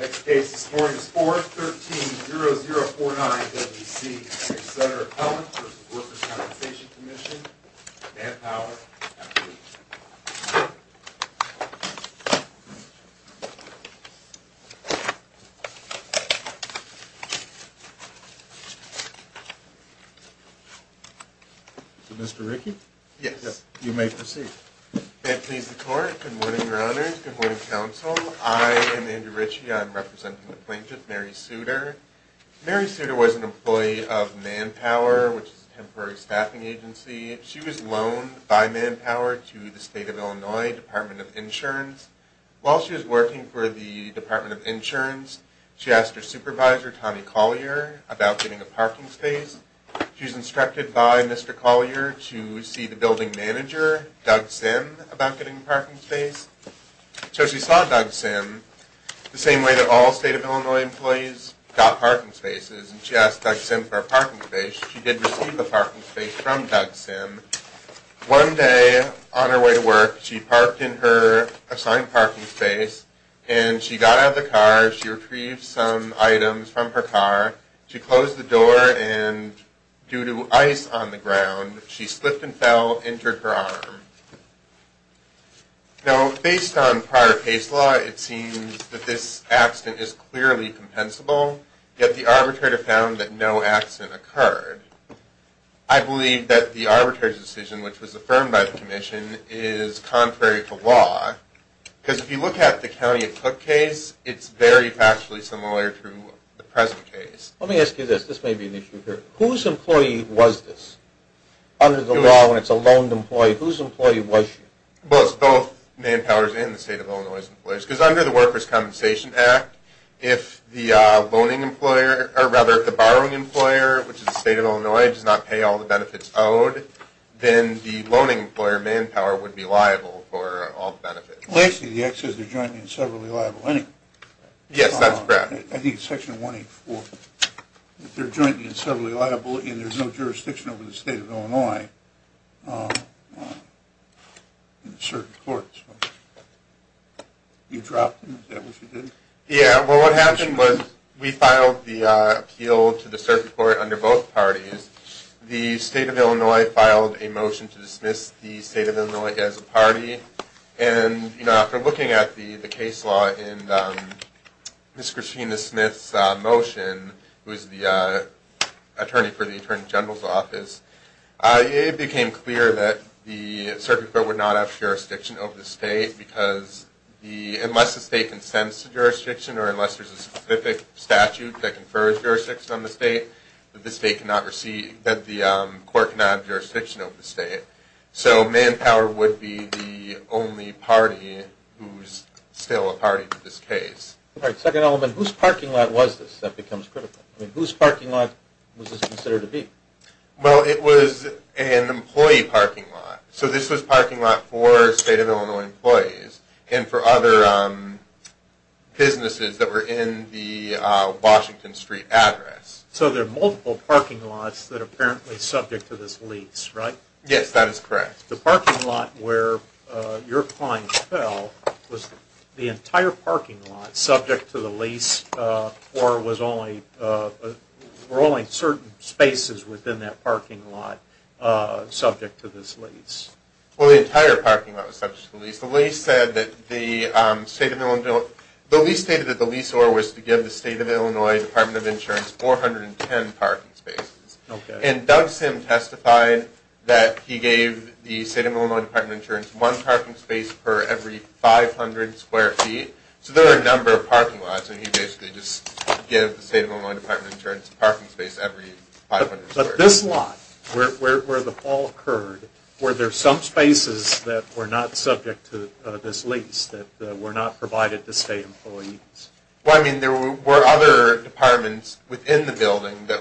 Next case is 413-0049-WC. I'm your Senator Appellant for the Workers' Compensation Comm'n, Matt Power. Mr. Rickey? Yes. You may proceed. May it please the Court. Good morning, Your Honors. Good morning, Council. I am Andrew Rickey. I am representing the plaintiff, Mary Suter. Mary Suter was an employee of Manpower, which is a temporary staffing agency. She was loaned by Manpower to the State of Illinois Department of Insurance. While she was working for the Department of Insurance, she asked her supervisor, Tommy Collier, about getting a parking space. She was instructed by Mr. Collier to see the building manager, Doug Sim, about getting a parking space. So she saw Doug Sim, the same way that all State of Illinois employees got parking spaces, and she asked Doug Sim for a parking space. She did receive a parking space from Doug Sim. One day, on her way to work, she parked in her assigned parking space, and she got out of the car, she retrieved some items from her car, she closed the door, and due to ice on the ground, she slipped and fell, entered her arm. Now, based on prior case law, it seems that this accident is clearly compensable, yet the arbitrator found that no accident occurred. I believe that the arbitrator's decision, which was affirmed by the Commission, is contrary to law, because if you look at the County of Cook case, it's very factually similar to the present case. Let me ask you this, this may be an issue here. Whose employee was this? Under the law, when it's a loaned employee, whose employee was she? Well, it's both Manpower's and the State of Illinois's employers, because under the Workers' Compensation Act, if the borrowing employer, which is the State of Illinois, does not pay all the benefits owed, then the loaning employer, Manpower, would be liable for all benefits. Well, actually, the Act says they're jointly and severally liable anyway. Yes, that's correct. I think it's Section 184. They're jointly and severally liable, and there's no jurisdiction over the State of Illinois in the Circuit Court. You dropped them, is that what you did? Yeah, well, what happened was we filed the appeal to the Circuit Court under both parties. The State of Illinois filed a motion to dismiss the State of Illinois as a party, and after looking at the case law in Ms. Christina Smith's motion, who is the attorney for the Attorney General's office, it became clear that the Circuit Court would not have jurisdiction over the State, because unless the State consents to jurisdiction, or unless there's a specific statute that confers jurisdiction on the State, that the Court cannot have jurisdiction over the State. So Manpower would be the only party who's still a party to this case. All right, second element. Whose parking lot was this? That becomes critical. I mean, whose parking lot was this considered to be? Well, it was an employee parking lot. So this was a parking lot for State of Illinois employees and for other businesses that were in the Washington Street address. So there are multiple parking lots that are apparently subject to this lease, right? Yes, that is correct. The parking lot where your client fell was the entire parking lot subject to the lease, or were only certain spaces within that parking lot subject to this lease? Well, the entire parking lot was subject to the lease. The lease stated that the lease order was to give the State of Illinois Department of Insurance 410 parking spaces. And Doug Sim testified that he gave the State of Illinois Department of Insurance one parking space per every 500 square feet. So there are a number of parking lots, and he basically just gave the State of Illinois Department of Insurance a parking space every 500 square feet. But this lot, where the fall occurred, were there some spaces that were not subject to this lease, that were not provided to State employees? Well, I mean, there were other departments within the building that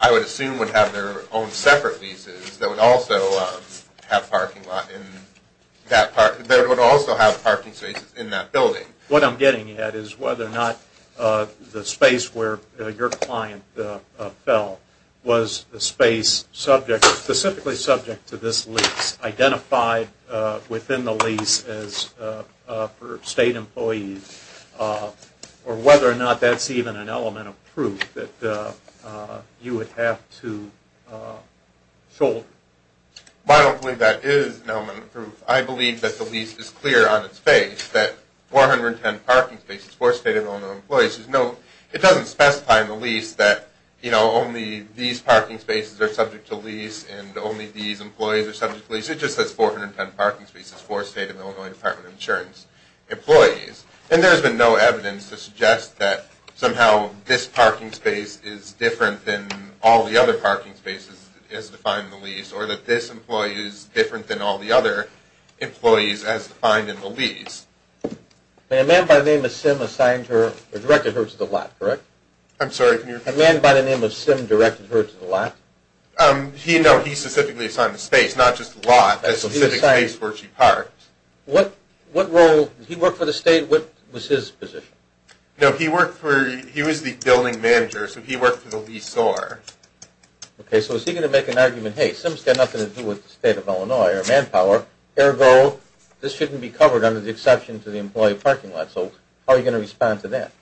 I would assume would have their own separate leases that would also have parking spaces in that building. What I'm getting at is whether or not the space where your client fell was a space specifically subject to this lease, identified within the lease for State employees, or whether or not that's even an element of proof that you would have to shoulder. I don't believe that is an element of proof. I believe that the lease is clear on its face, that 410 parking spaces for State of Illinois employees. It doesn't specify in the lease that only these parking spaces are subject to lease and only these employees are subject to lease. It just says 410 parking spaces for State of Illinois Department of Insurance employees. And there has been no evidence to suggest that somehow this parking space is different than all the other parking spaces as defined in the lease, or that this employee is different than all the other employees as defined in the lease. A man by the name of Sim assigned her, or directed her to the lot, correct? I'm sorry, can you repeat that? A man by the name of Sim directed her to the lot? No, he specifically assigned the space, not just the lot, a specific space where she parked. What role, did he work for the State? What was his position? No, he worked for, he was the building manager, so he worked for the lease owner. Okay, so is he going to make an argument, hey, Sim's got nothing to do with the State of Illinois or manpower, ergo this shouldn't be covered under the exception to the employee parking lot. So how are you going to respond to that?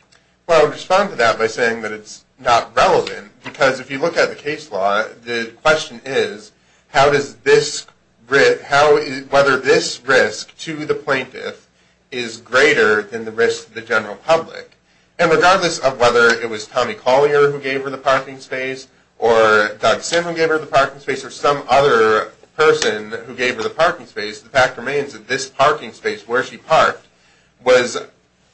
Well, I would respond to that by saying that it's not relevant, because if you look at the case law, the question is how does this, whether this risk to the plaintiff is greater than the risk to the general public. And regardless of whether it was Tommy Collier who gave her the parking space, or Doug Sim who gave her the parking space, or some other person who gave her the parking space, the fact remains that this parking space where she parked was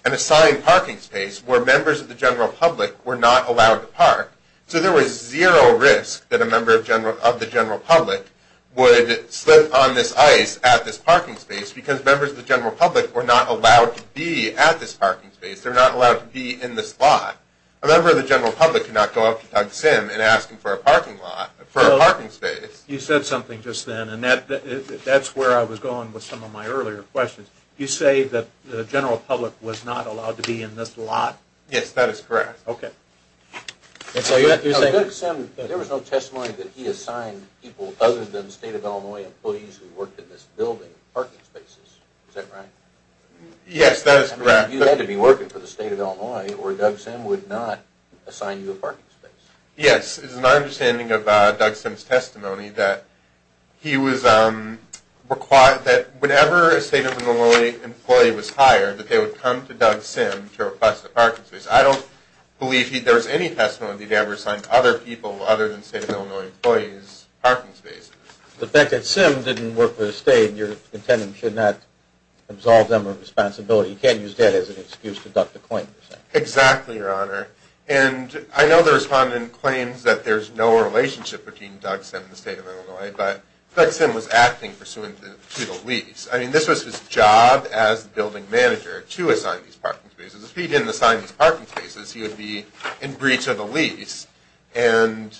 an assigned parking space where members of the general public were not allowed to park. So there was zero risk that a member of the general public would slip on this ice at this parking space, because members of the general public were not allowed to be at this parking space. They're not allowed to be in this lot. A member of the general public cannot go up to Doug Sim and ask him for a parking lot, for a parking space. You said something just then, and that's where I was going with some of my earlier questions. You say that the general public was not allowed to be in this lot? Yes, that is correct. Okay. Doug Sim, there was no testimony that he assigned people other than State of Illinois employees who worked in this building parking spaces, is that right? Yes, that is correct. You had to be working for the State of Illinois, or Doug Sim would not assign you a parking space. Yes, it is my understanding of Doug Sim's testimony that whenever a State of Illinois employee was hired, that they would come to Doug Sim to request a parking space. I don't believe there was any testimony that he'd ever assigned other people other than State of Illinois employees parking spaces. The fact that Sim didn't work for the State, your contendent should not absolve them of responsibility. You can't use that as an excuse to duck the claim. Exactly, Your Honor. And I know the respondent claims that there's no relationship between Doug Sim and the State of Illinois, but Doug Sim was acting pursuant to the lease. I mean, this was his job as the building manager to assign these parking spaces. If he didn't assign these parking spaces, he would be in breach of the lease. And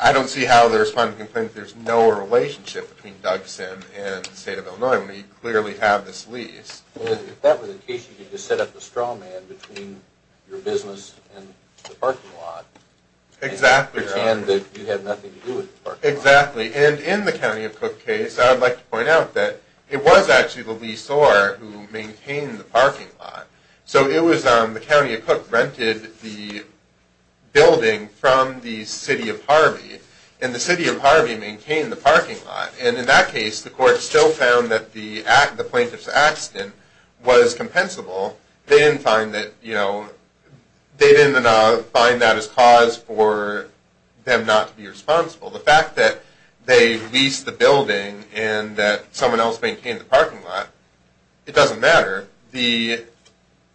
I don't see how the respondent can claim that there's no relationship between Doug Sim and the State of Illinois when we clearly have this lease. If that were the case, you could just set up a straw man between your business and the parking lot. Exactly. And that you had nothing to do with the parking lot. Exactly. And in the County of Cook case, I would like to point out that it was actually the lease owner who maintained the parking lot. So it was the County of Cook rented the building from the City of Harvey, and the City of Harvey maintained the parking lot. And in that case, the court still found that the plaintiff's accident was compensable. They didn't find that as cause for them not to be responsible. The fact that they leased the building and that someone else maintained the parking lot, it doesn't matter. The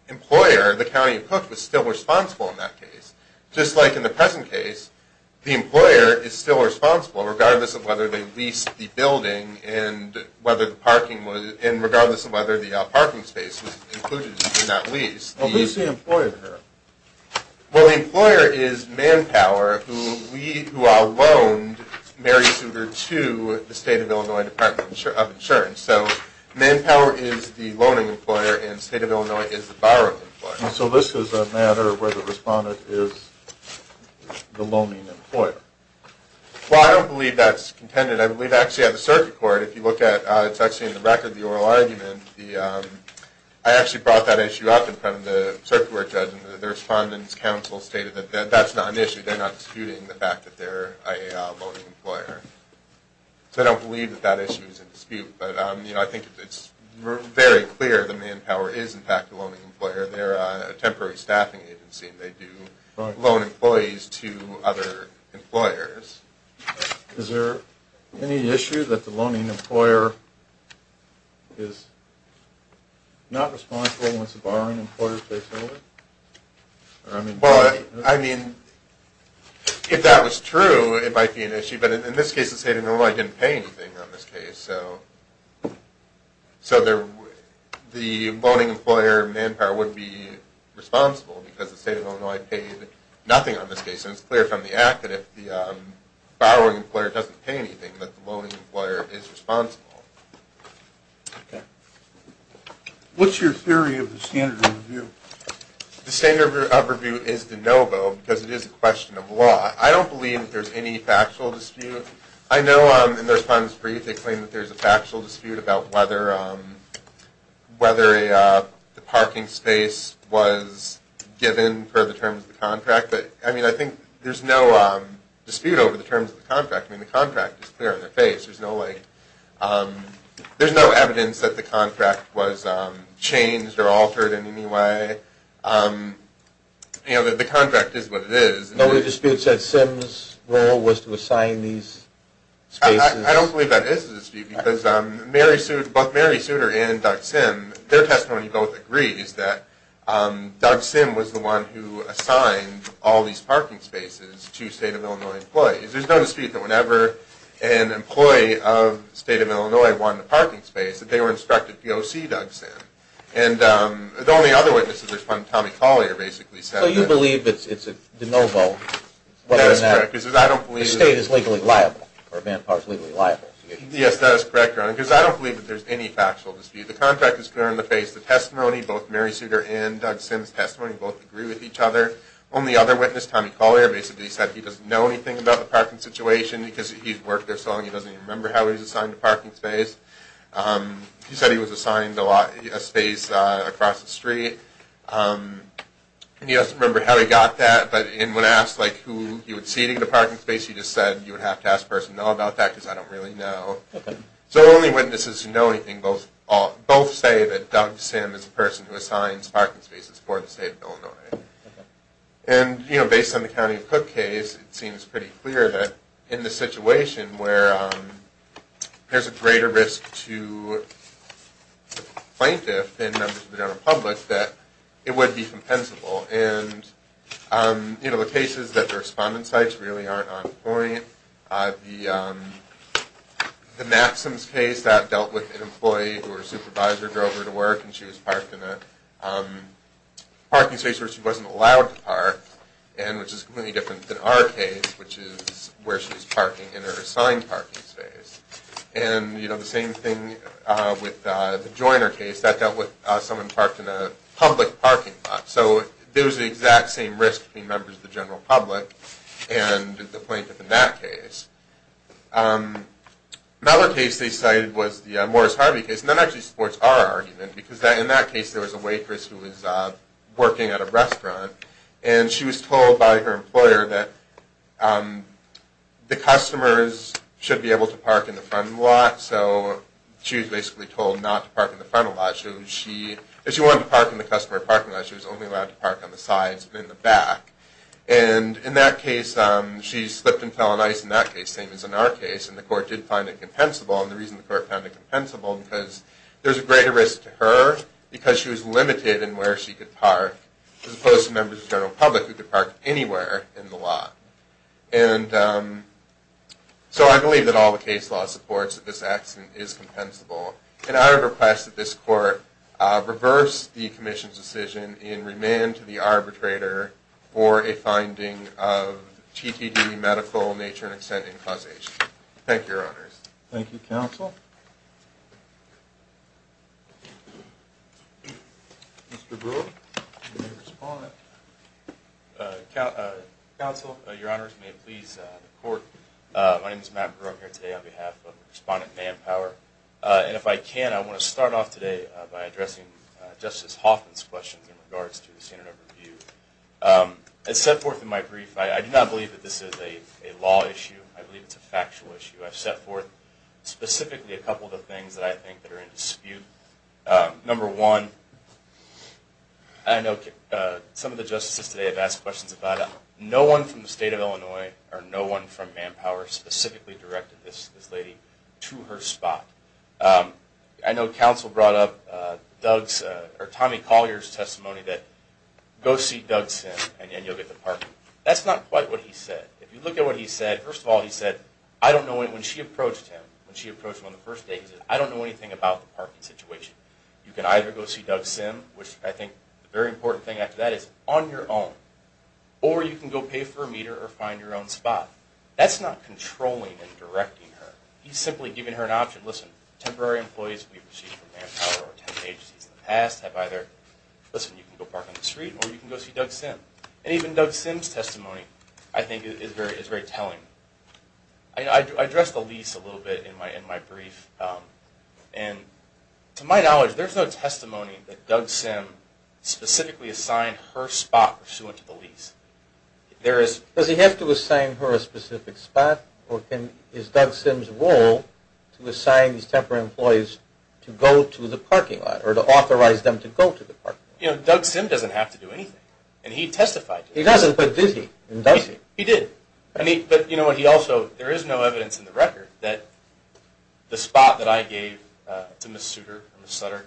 employer, the County of Cook, was still responsible in that case. Just like in the present case, the employer is still responsible regardless of whether they leased the building and regardless of whether the parking space was included in that lease. Who's the employer here? Well, the employer is Manpower, who loaned Mary Sugar to the State of Illinois Department of Insurance. So Manpower is the loaning employer, and State of Illinois is the borrowing employer. And so this is a matter where the respondent is the loaning employer. Well, I don't believe that's contended. I believe actually on the circuit court, if you look at, it's actually in the record, the oral argument, I actually brought that issue up in front of the circuit court judge, and the respondent's counsel stated that that's not an issue. They're not disputing the fact that they're a loaning employer. So I don't believe that that issue is in dispute. But, you know, I think it's very clear that Manpower is, in fact, a loaning employer. They're a temporary staffing agency, and they do loan employees to other employers. Is there any issue that the loaning employer is not responsible once the borrowing employer takes over? Well, I mean, if that was true, it might be an issue. But in this case, the State of Illinois didn't pay anything on this case. So the loaning employer, Manpower, would be responsible because the State of Illinois paid nothing on this case. And it's clear from the act that if the borrowing employer doesn't pay anything, that the loaning employer is responsible. Okay. What's your theory of the standard of review? The standard of review is de novo because it is a question of law. I don't believe that there's any factual dispute. I know in their response brief they claim that there's a factual dispute about whether the parking space was given for the terms of the contract. But, I mean, I think there's no dispute over the terms of the contract. I mean, the contract is clear in their face. There's no evidence that the contract was changed or altered in any way. You know, the contract is what it is. No other disputes that Simms' role was to assign these spaces? I don't believe that is a dispute because both Mary Souter and Doug Simm, their testimony both agrees that Doug Simm was the one who assigned all these parking spaces to State of Illinois employees. There's no dispute that whenever an employee of State of Illinois wanted a parking space, that they were instructed to go see Doug Simm. And the only other witnesses that responded to Tommy Collier basically said that. So you believe it's a de novo whether or not the state is legally liable or Van Park is legally liable? Yes, that is correct, Ron. Because I don't believe that there's any factual dispute. The contract is clear in the face. The testimony, both Mary Souter and Doug Simm's testimony both agree with each other. Only other witness, Tommy Collier, basically said he doesn't know anything about the parking situation because he's worked there so long he doesn't even remember how he was assigned a parking space. He said he was assigned a space across the street. He doesn't remember how he got that, but when asked who he would see in the parking space, he just said you would have to ask a person to know about that because I don't really know. So the only witnesses who know anything both say that Doug Simm is the person who assigned parking spaces for the State of Illinois. And, you know, based on the County of Cook case, it seems pretty clear that in the situation where there's a greater risk to plaintiff than members of the general public that it would be compensable. And, you know, the cases that the respondent sites really aren't on point. The Matson's case, that dealt with an employee who her supervisor drove her to work and she was parked in a parking space where she wasn't allowed to park, and which is completely different than our case, which is where she was parking in her assigned parking space. And, you know, the same thing with the Joyner case, that dealt with someone parked in a public parking lot. So there was the exact same risk between members of the general public and the plaintiff in that case. Another case they cited was the Morris Harvey case, and that actually supports our argument because in that case there was a waitress who was working at a restaurant and she was told by her employer that the customers should be able to park in the front lot, so she was basically told not to park in the front lot. She wanted to park in the customer parking lot, she was only allowed to park on the sides and in the back. And in that case she slipped and fell on ice in that case, same as in our case, and the court did find it compensable. And the reason the court found it compensable was because there was a greater risk to her because she was limited in where she could park, as opposed to members of the general public who could park anywhere in the lot. And so I believe that all the case law supports that this accident is compensable. And I would request that this court reverse the commission's decision and remand to the arbitrator for a finding of TTD medical nature and extent in causation. Thank you, Your Honors. Thank you, Counsel. Mr. Brewer, you may respond. Counsel, Your Honors, may it please the court. My name is Matt Brewer. I'm here today on behalf of Respondent Manpower. And if I can, I want to start off today by addressing Justice Hoffman's question in regards to the standard of review. As set forth in my brief, I do not believe that this is a law issue. I believe it's a factual issue. I've set forth specifically a couple of the things that I think are in dispute. Number one, I know some of the justices today have asked questions about it. No one from the State of Illinois or no one from Manpower specifically directed this lady to her spot. I know Counsel brought up Tommy Collier's testimony that, go see Doug Sim and you'll get the parking. That's not quite what he said. If you look at what he said, first of all, he said, I don't know anything about the parking situation. You can either go see Doug Sim, which I think the very important thing after that is, on your own. Or you can go pay for a meter or find your own spot. That's not controlling and directing her. He's simply giving her an option. Listen, temporary employees we've received from Manpower or temp agencies in the past have either, listen, you can go park on the street or you can go see Doug Sim. And even Doug Sim's testimony, I think, is very telling. I addressed the lease a little bit in my brief. And to my knowledge, there's no testimony that Doug Sim specifically assigned her spot pursuant to the lease. Does he have to assign her a specific spot or is Doug Sim's role to assign these temporary employees to go to the parking lot or to authorize them to go to the parking lot? Doug Sim doesn't have to do anything. And he testified to that. He doesn't, but did he? There is no evidence in the record that the spot that I gave to Ms. Suter or Ms. Sutter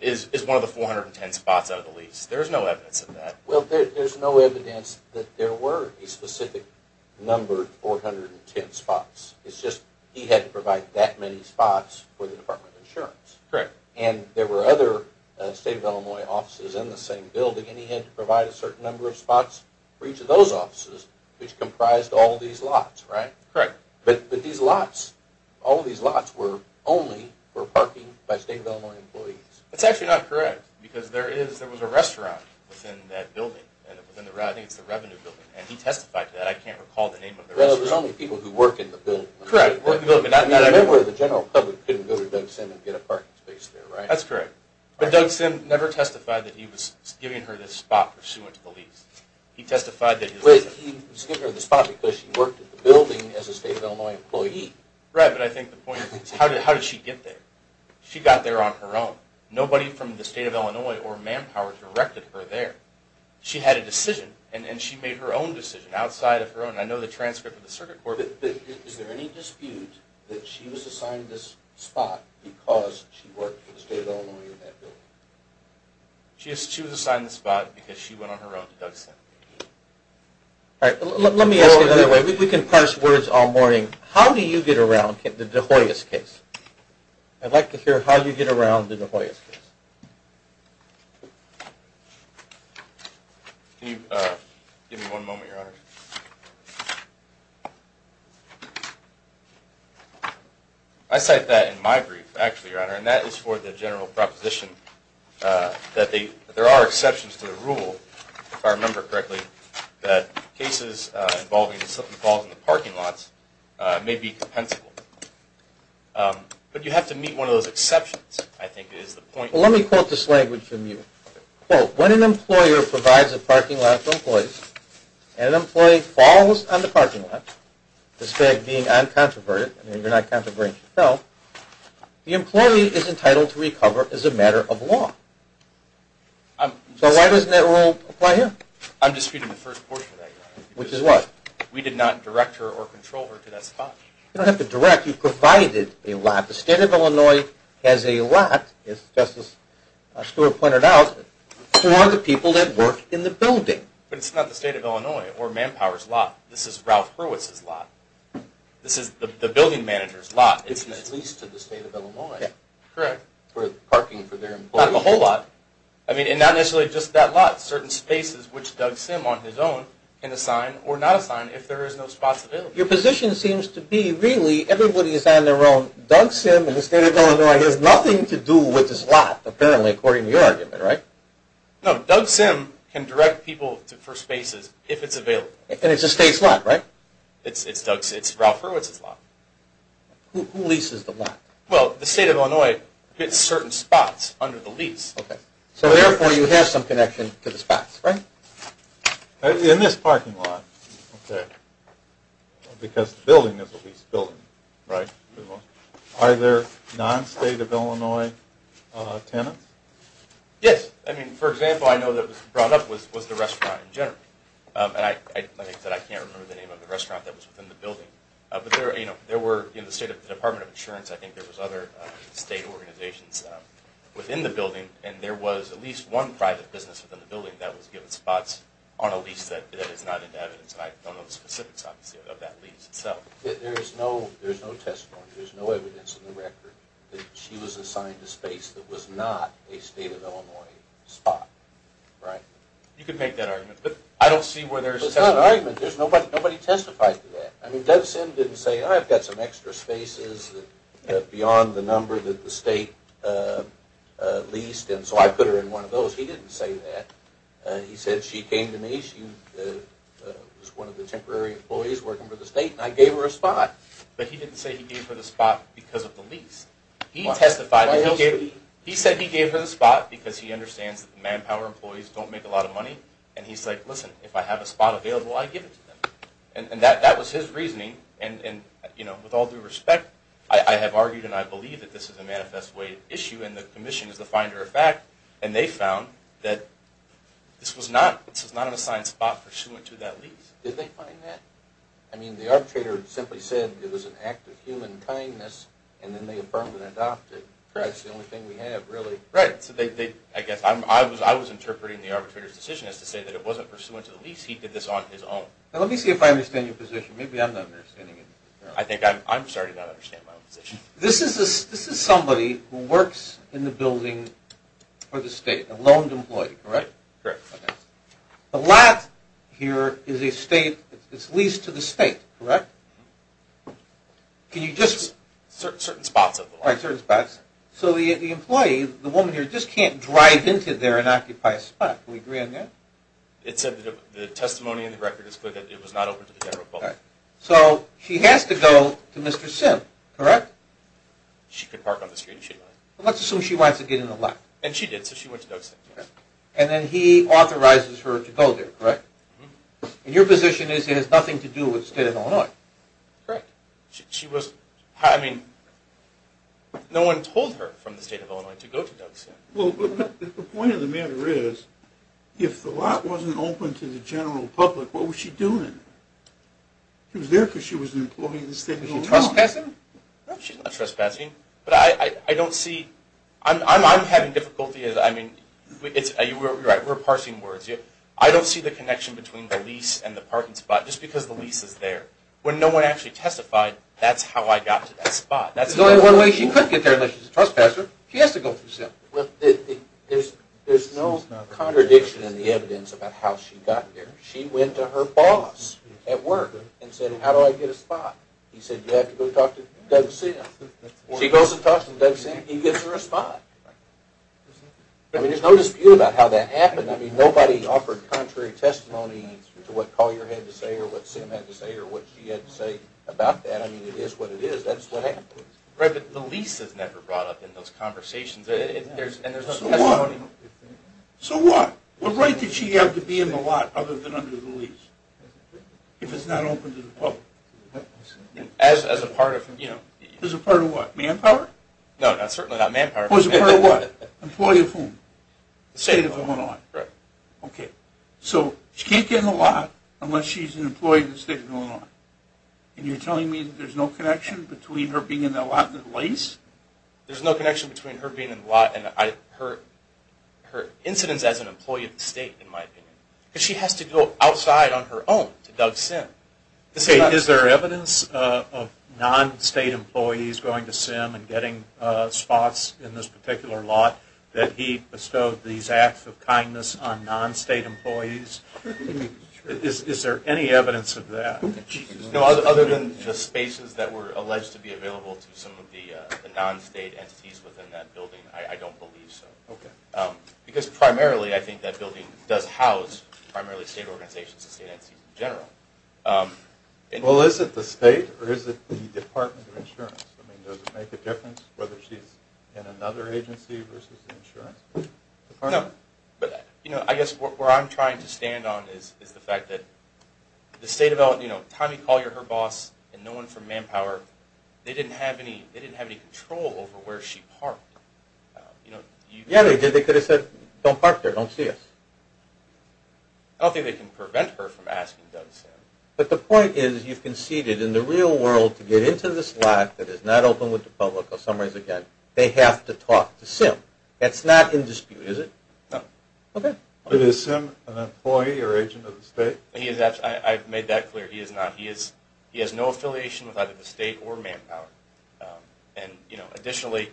is one of the 410 spots out of the lease. There is no evidence of that. Well, there's no evidence that there were a specific number of 410 spots. It's just he had to provide that many spots for the Department of Insurance. And there were other State of Illinois offices in the same building and he had to provide a certain number of spots for each of those offices, which comprised all these lots, right? Correct. But these lots, all of these lots were only for parking by State of Illinois employees. That's actually not correct because there was a restaurant within that building. And he testified to that. I can't recall the name of the restaurant. Correct. A member of the general public couldn't go to Doug Sim and get a parking space there, right? That's correct. But Doug Sim never testified that he was giving her this spot pursuant to the lease. He testified that he was giving her the spot because she worked at the building as a State of Illinois employee. Right, but I think the point is how did she get there? She got there on her own. Nobody from the State of Illinois or Manpower directed her there. She had a decision and she made her own decision outside of her own. Is there any dispute that she was assigned this spot because she worked for the State of Illinois in that building? She was assigned the spot because she went on her own to Doug Sim. Let me ask another way. We can parse words all morning. How do you get around the De Hoyos case? Give me one moment, Your Honor. I cite that in my brief actually, Your Honor. And that is for the general proposition that there are exceptions to the rule, if I remember correctly, that cases involving parking lots may be compensable. But you have to meet one of those exceptions, I think is the point. Let me quote this language from you. When an employer provides a parking lot to employees and an employee falls on the parking lot, despite being uncontroverted, I mean you're not controverting yourself, the employee is entitled to recover as a matter of law. So why doesn't that rule apply here? I'm disputing the first portion of that, Your Honor. You don't have to direct. You provided a lot. The State of Illinois has a lot, as Justice Stewart pointed out, for the people that work in the building. But it's not the State of Illinois or Manpower's lot. This is Ralph Hurwitz's lot. This is the building manager's lot. Correct. Not the whole lot. Your position seems to be, really, everybody is on their own. Doug Sim in the State of Illinois has nothing to do with this lot, apparently, according to your argument, right? No, Doug Sim can direct people for spaces if it's available. And it's the State's lot, right? It's Ralph Hurwitz's lot. In this parking lot, because the building is a leased building, are there non-State of Illinois tenants? Yes. For example, I know that what was brought up was the restaurant in general. I can't remember the name of the restaurant that was within the building. There were, in the State Department of Insurance, I think there were other State organizations within the building, and there was at least one private business within the building that was given spots on a lease that is not in the evidence. I don't know the specifics, obviously, of that lease itself. There's no evidence in the record that she was assigned a space that was not a State of Illinois spot, right? You could make that argument, but I don't see where there's... It's not an argument. Nobody testified to that. Doug Sim didn't say, I've got some extra spaces beyond the number that the State leased, and so I put her in one of those. He didn't say that. He said she came to me, she was one of the temporary employees working for the State, and I gave her a spot. But he didn't say he gave her the spot because of the lease. He testified, he said he gave her the spot because he understands that manpower employees don't make a lot of money, and he's like, listen, if I have a spot available, I give it to them. And that was his reasoning, and with all due respect, I have argued and I believe that this is a manifest way of issue, and the Commission is the finder of fact, and they found that this was not an assigned spot pursuant to that lease. Did they find that? I mean, the arbitrator simply said it was an act of human kindness, and then the Affirmative adopted it. Correct. I was interpreting the arbitrator's decision as to say that it wasn't pursuant to the lease. He did this on his own. Now let me see if I understand your position. Maybe I'm not understanding it. This is somebody who works in the building for the State, a loaned employee, correct? Correct. The lot here is a State, it's leased to the State, correct? Certain spots of the lot. So the employee, the woman here, just can't drive into there and occupy a spot. Can we agree on that? It said that the testimony in the record is clear that it was not open to the general public. So she has to go to Mr. Simp, correct? She could park on the street if she wanted. Let's assume she wants to get in the lot. And then he authorizes her to go there, correct? And your position is that it has nothing to do with the State of Illinois? Correct. No one told her from the State of Illinois to go to Doug Simp. The point of the matter is, if the lot wasn't open to the general public, what was she doing? Was she trespassing? No, she's not trespassing. I don't see the connection between the lease and the parking spot, just because the lease is there. When no one actually testified, that's how I got to that spot. There's only one way she could get there unless she's a trespasser. She has to go through Simp. There's no contradiction in the evidence about how she got there. She went to her boss at work and said, how do I get a spot? He said, you have to go talk to Doug Simp. She goes and talks to Doug Simp and he gives her a spot. There's no dispute about how that happened. Nobody offered contrary testimony to what Call Your Head had to say or what Simp had to say or what she had to say about that. It is what it is. That's what happened. The lease is never brought up in those conversations. So what? What right did she have to be in the lot other than under the lease? If it's not open to the public. As a part of what? Manpower? No, certainly not manpower. Employee of whom? State of Illinois. So she can't get in the lot unless she's an employee of the state of Illinois. And you're telling me there's no connection between her being in the lot and the lease? There's no connection between her being in the lot and her incidence as an employee of the state, in my opinion. She has to go outside on her own to Doug Simp. Is there evidence of non-state employees going to Simp and getting spots in this particular lot that he bestowed these acts of kindness on non-state employees? Is there any evidence of that? Other than the spaces that were alleged to be available to some of the non-state entities within that building, I don't believe so. Because primarily, I think that building does house primarily state organizations and state entities in general. Well, is it the state or is it the Department of Insurance? Does it make a difference whether she's in another agency versus the insurance department? No, but I guess where I'm trying to stand on is the fact that the state of Illinois, you know, Tommy Collier, her boss, and no one from Manpower, they didn't have any control over where she parked. Yeah, they did. They could have said, don't park there. Don't see us. I don't think they can prevent her from asking Doug Simp. But the point is, you've conceded in the real world to get into this lot that is not open to the public. In some ways, again, they have to talk to Simp. That's not in dispute, is it? No. Is Simp an employee or agent of the state? I've made that clear. He has no affiliation with either the state or Manpower. And, you know, additionally...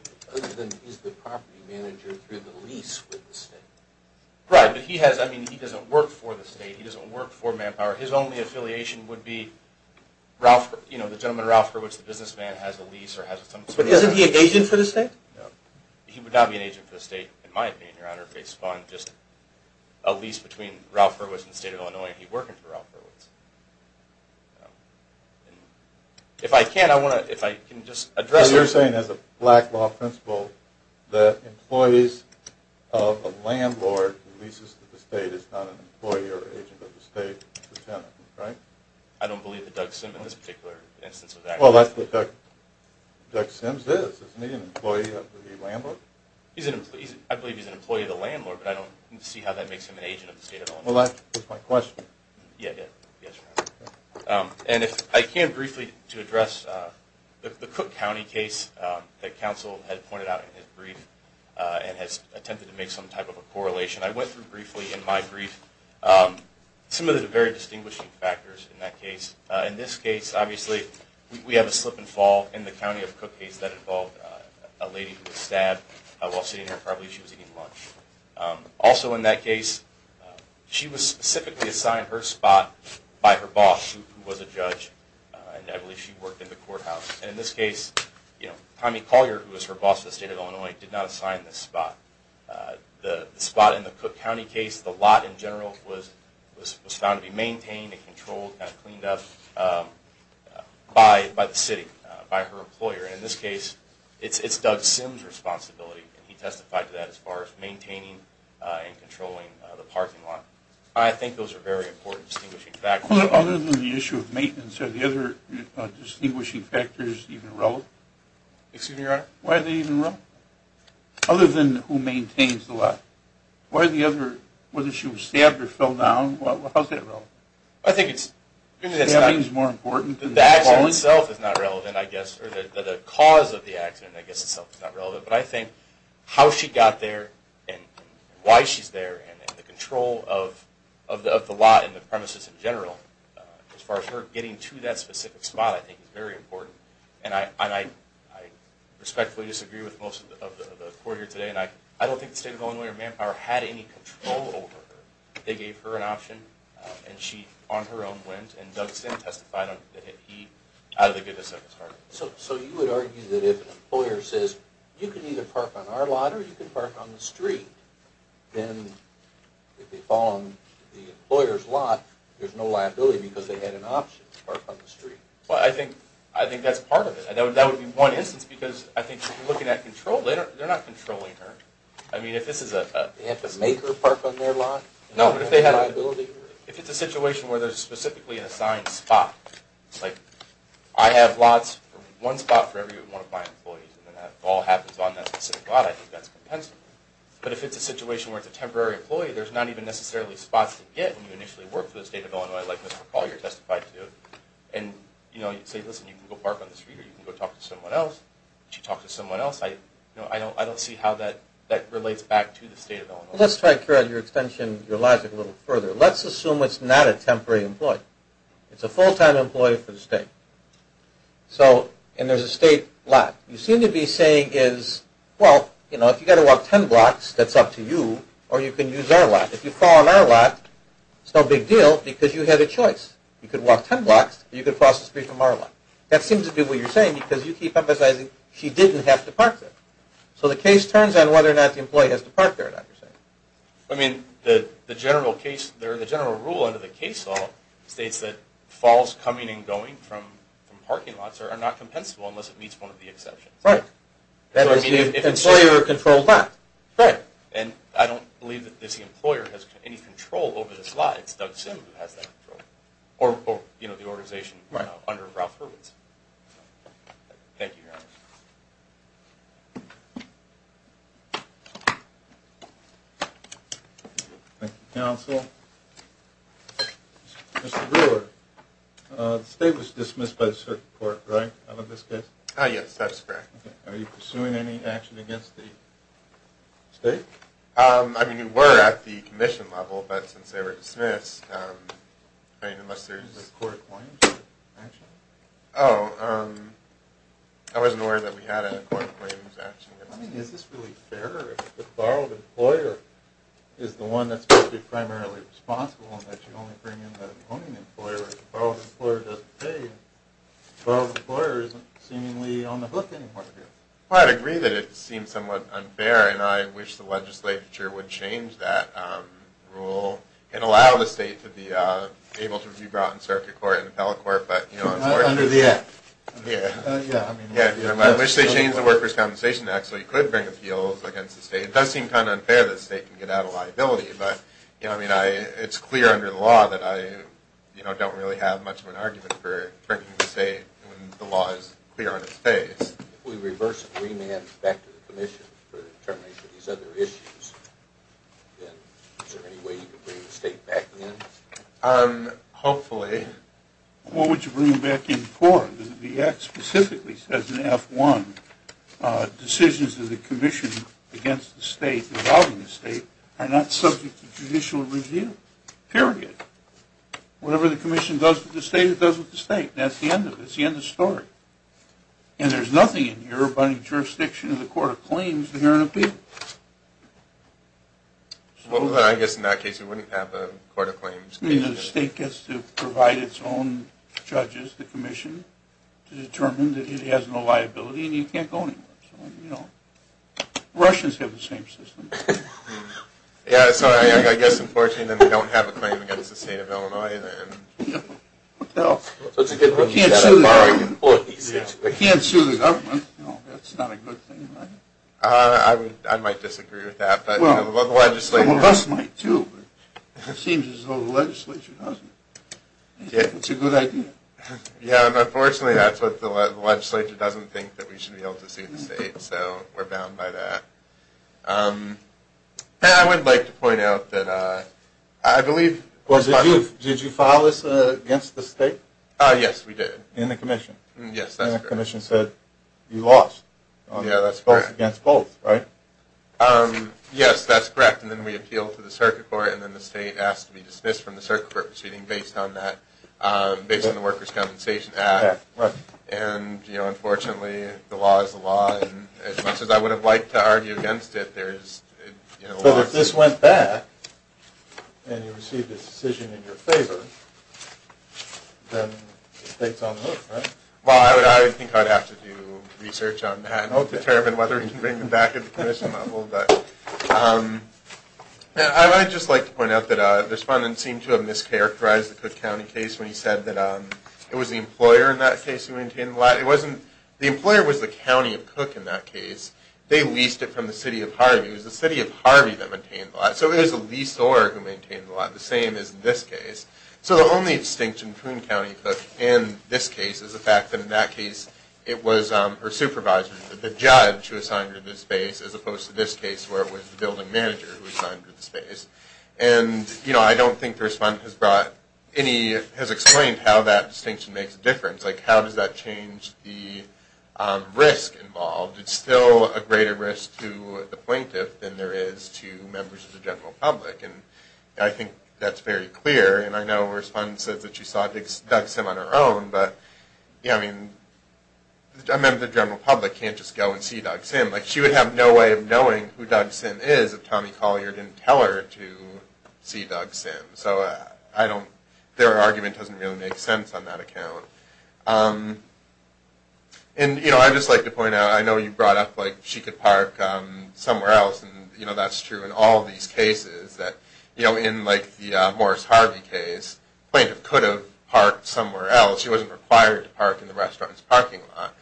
Is the property manager through the lease with the state? Right, but he doesn't work for the state. He doesn't work for Manpower. His only affiliation would be the gentleman, Ralph Hurwitz, the businessman, has a lease or has some sort of But isn't he an agent for the state? No. He would not be an agent for the state, in my opinion, Your Honor, based upon just a lease between Ralph Hurwitz and the state of Illinois and he working for Ralph Hurwitz. If I can, I want to... You're saying, as a black law principle, that employees of a landlord who leases to the state is not an employee or agent of the state, right? I don't believe that Doug Simp in this particular instance of that. Doug Simp is, isn't he an employee of the landlord? I believe he's an employee of the landlord, but I don't see how that makes him an agent of the state at all. Well, that was my question. And if I can, briefly, to address the Cook County case that counsel had pointed out in his brief and has attempted to make some type of a correlation. I went through briefly in my brief some of the very distinguishing factors in that case. In this case, obviously, we have a slip and fall in the county of Cook case that involved a lady who was stabbed while sitting here, probably she was eating lunch. Also in that case, she was specifically assigned her spot by her boss, who was a judge, and I believe she worked in the courthouse. And in this case, Tommy Collier, who was her boss of the state of Illinois, did not assign this spot. The spot in the Cook County case, the lot in general, was found to be maintained and controlled and cleaned up by the city, by her employer. And in this case, it's Doug Simp's responsibility and he testified to that as far as maintaining and controlling the parking lot. I think those are very important distinguishing factors. Other than the issue of maintenance, are the other distinguishing factors even relevant? Excuse me, Your Honor? Why are they even relevant? Other than who maintains the lot. Why are the other, whether she was stabbed or fell down, how is that relevant? I think it's... The accident itself is not relevant, I guess, or the cause of the accident itself is not relevant, but I think how she got there and why she's there and the control of the lot and the premises in general, as far as her getting to that specific spot, I think is very important. And I respectfully disagree with most of the court here today and I don't think the state of Illinois or Manpower had any control over her. They gave her an option and she, on her own, went and Doug Simp testified that he, out of the goodness of his heart... So you would argue that if an employer says, you can either park on our lot or you can park on the street, then if they fall on the employer's lot, there's no liability because they had an option to park on the street. Well, I think that's part of it. That would be one instance because I think if you're looking at control, they're not controlling her. I mean, if this is a... They have to make her park on their lot? No, but if they had... If it's a situation where there's specifically an assigned spot, like, I have lots, one spot for every one of my employees and that all happens on that specific lot, I think that's compensable. But if it's a situation where it's a temporary employee, there's not even necessarily spots to get when you initially work for the state of Illinois like Mr. McCaul, you're testified to, and you say, listen, you can go park on the street or you can go talk to someone else. If she talks to someone else, I don't see how that relates back to the state of Illinois. Let's try to carry out your extension, your logic a little further. Let's assume it's not a temporary employee. It's a full-time employee for the state. So, and there's a state lot. You seem to be saying is, well, you know, if you've got to walk ten blocks, that's up to you, or you can use our lot. If you call on our lot, it's no big deal because you had a choice. You could walk ten blocks or you could cross the street from our lot. That seems to be what you're saying because you keep emphasizing she didn't have to park there. So the case turns on whether or not the employee has to park there, is that what you're saying? I mean, the general case... states that falls coming and going from parking lots are not compensable unless it meets one of the exceptions. Right. That is the employer-controlled lot. Right. And I don't believe that this employer has any control over this lot. It's Doug Sim who has that control. Or, you know, the organization under Ralph Hurwitz. Thank you, Your Honor. Thank you, Counsel. Mr. Brewer, the state was dismissed by the circuit court, right, out of this case? Yes, that is correct. Are you pursuing any action against the state? I mean, we were at the commission level, but since they were dismissed, I mean, unless there's... Is this a court-acquainted action? Oh, I wasn't aware that we had a court-acquainted action. I mean, is this really fair if the borrowed employer is the one that's going to be primarily responsible and that you only bring in the owning employer? If the borrowed employer doesn't pay, the borrowed employer isn't seemingly on the hook anymore here. Well, I'd agree that it seems somewhat unfair, and I wish the legislature would change that rule and allow the state to be able to be brought in circuit court and appellate court, but, you know... Under the Act. Yeah. I mean... I wish they changed the Workers' Compensation Act so you could bring appeals against the state. It does seem kind of unfair that the state can get out a liability, but, you know, I mean, it's clear under the law that I, you know, don't really have much of an argument for bringing the state when the law is clear on its face. If we reverse it, remand it back to the commission for determination of these other issues, then is there any way you could bring the state back in? Um, hopefully. What would you bring back in court? The Act specifically says in Act 1 that decisions of the commission against the state, devolving the state, are not subject to judicial review. Period. Whatever the commission does with the state, it does with the state. That's the end of it. It's the end of the story. And there's nothing in here but a jurisdiction of the Court of Claims to hear an appeal. Well, then I guess in that case we wouldn't have a Court of Claims... I mean, the state gets to provide its own judges, the commission, to determine that it has no liability and you can't go anywhere. You know, Russians have the same system. Yeah, so I guess, unfortunately, then we don't have a claim against the state of Illinois. Well, we can't sue the government. We can't sue the government. That's not a good thing. I might disagree with that, but the legislature... Some of us might, too, but it seems as though the legislature doesn't. It's a good idea. Yeah, and unfortunately that's what the legislature doesn't think that we should be able to sue the state, so we're bound by that. And I would like to point out that I believe... Did you file this against the state? Yes, we did. In the commission. Yes, that's correct. We filed a case based on that, based on the Workers' Compensation Act. And, you know, unfortunately, the law is the law, and as much as I would have liked to argue against it, there's... So if this went back, and you received a decision in your favor, then the state's on the hook, right? Well, I think I'd have to do research on that and determine whether we can bring it back in the commission level. I'd just like to point out that the respondent seemed to have mischaracterized the Cook County case when he said that it was the employer in that case who maintained the lot. It wasn't... The employer was the county of Cook in that case. They leased it from the city of Harvey. It was the city of Harvey that maintained the lot, so it was a leasor who maintained the lot, the same as in this case. So the only distinction between Coon County and this case is the fact that in that case it was her supervisor, the judge, who assigned her this space, as opposed to this case where it was the building manager who assigned her this space. And, you know, I don't think the respondent has brought any... has explained how that distinction makes a difference. Like, how does that change the risk involved? It's still a greater risk to the plaintiff than there is to members of the general public, and I think that's very clear, and I know the respondent says that she saw Doug Sim on her own, but, you know, I mean, a member of the general public can't just go and see Doug Sim. Like, she would have no way of knowing who Doug Sim is if Tommy Collier didn't tell her to see Doug Sim, so I don't... their argument doesn't really make sense on that account. And, you know, I'd just like to point out, I know you brought up, like, she could park somewhere else, and, you know, that's true in all these cases that, you know, in, like, the Morris Harvey case, the plaintiff could have parked somewhere else. She wasn't required to park in the restaurant's parking lot,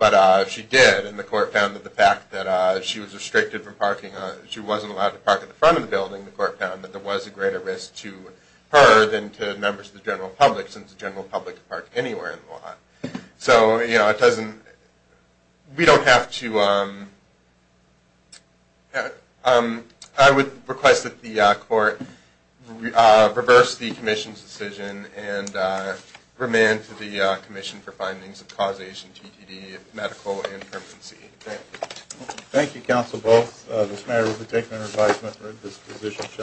but she did, and the court found that the fact that she was restricted from parking... she wasn't allowed to park at the front of the building, the court found that there was a greater risk to her than to members of the general public since the general public can park anywhere in the lot. So, you know, it doesn't... we don't have to... I would request that the court reverse the commission's decision and remand to the commission for findings of causation, TTD, medical infirmancy. Thank you. Thank you, counsel, both. This matter has been taken under advisement.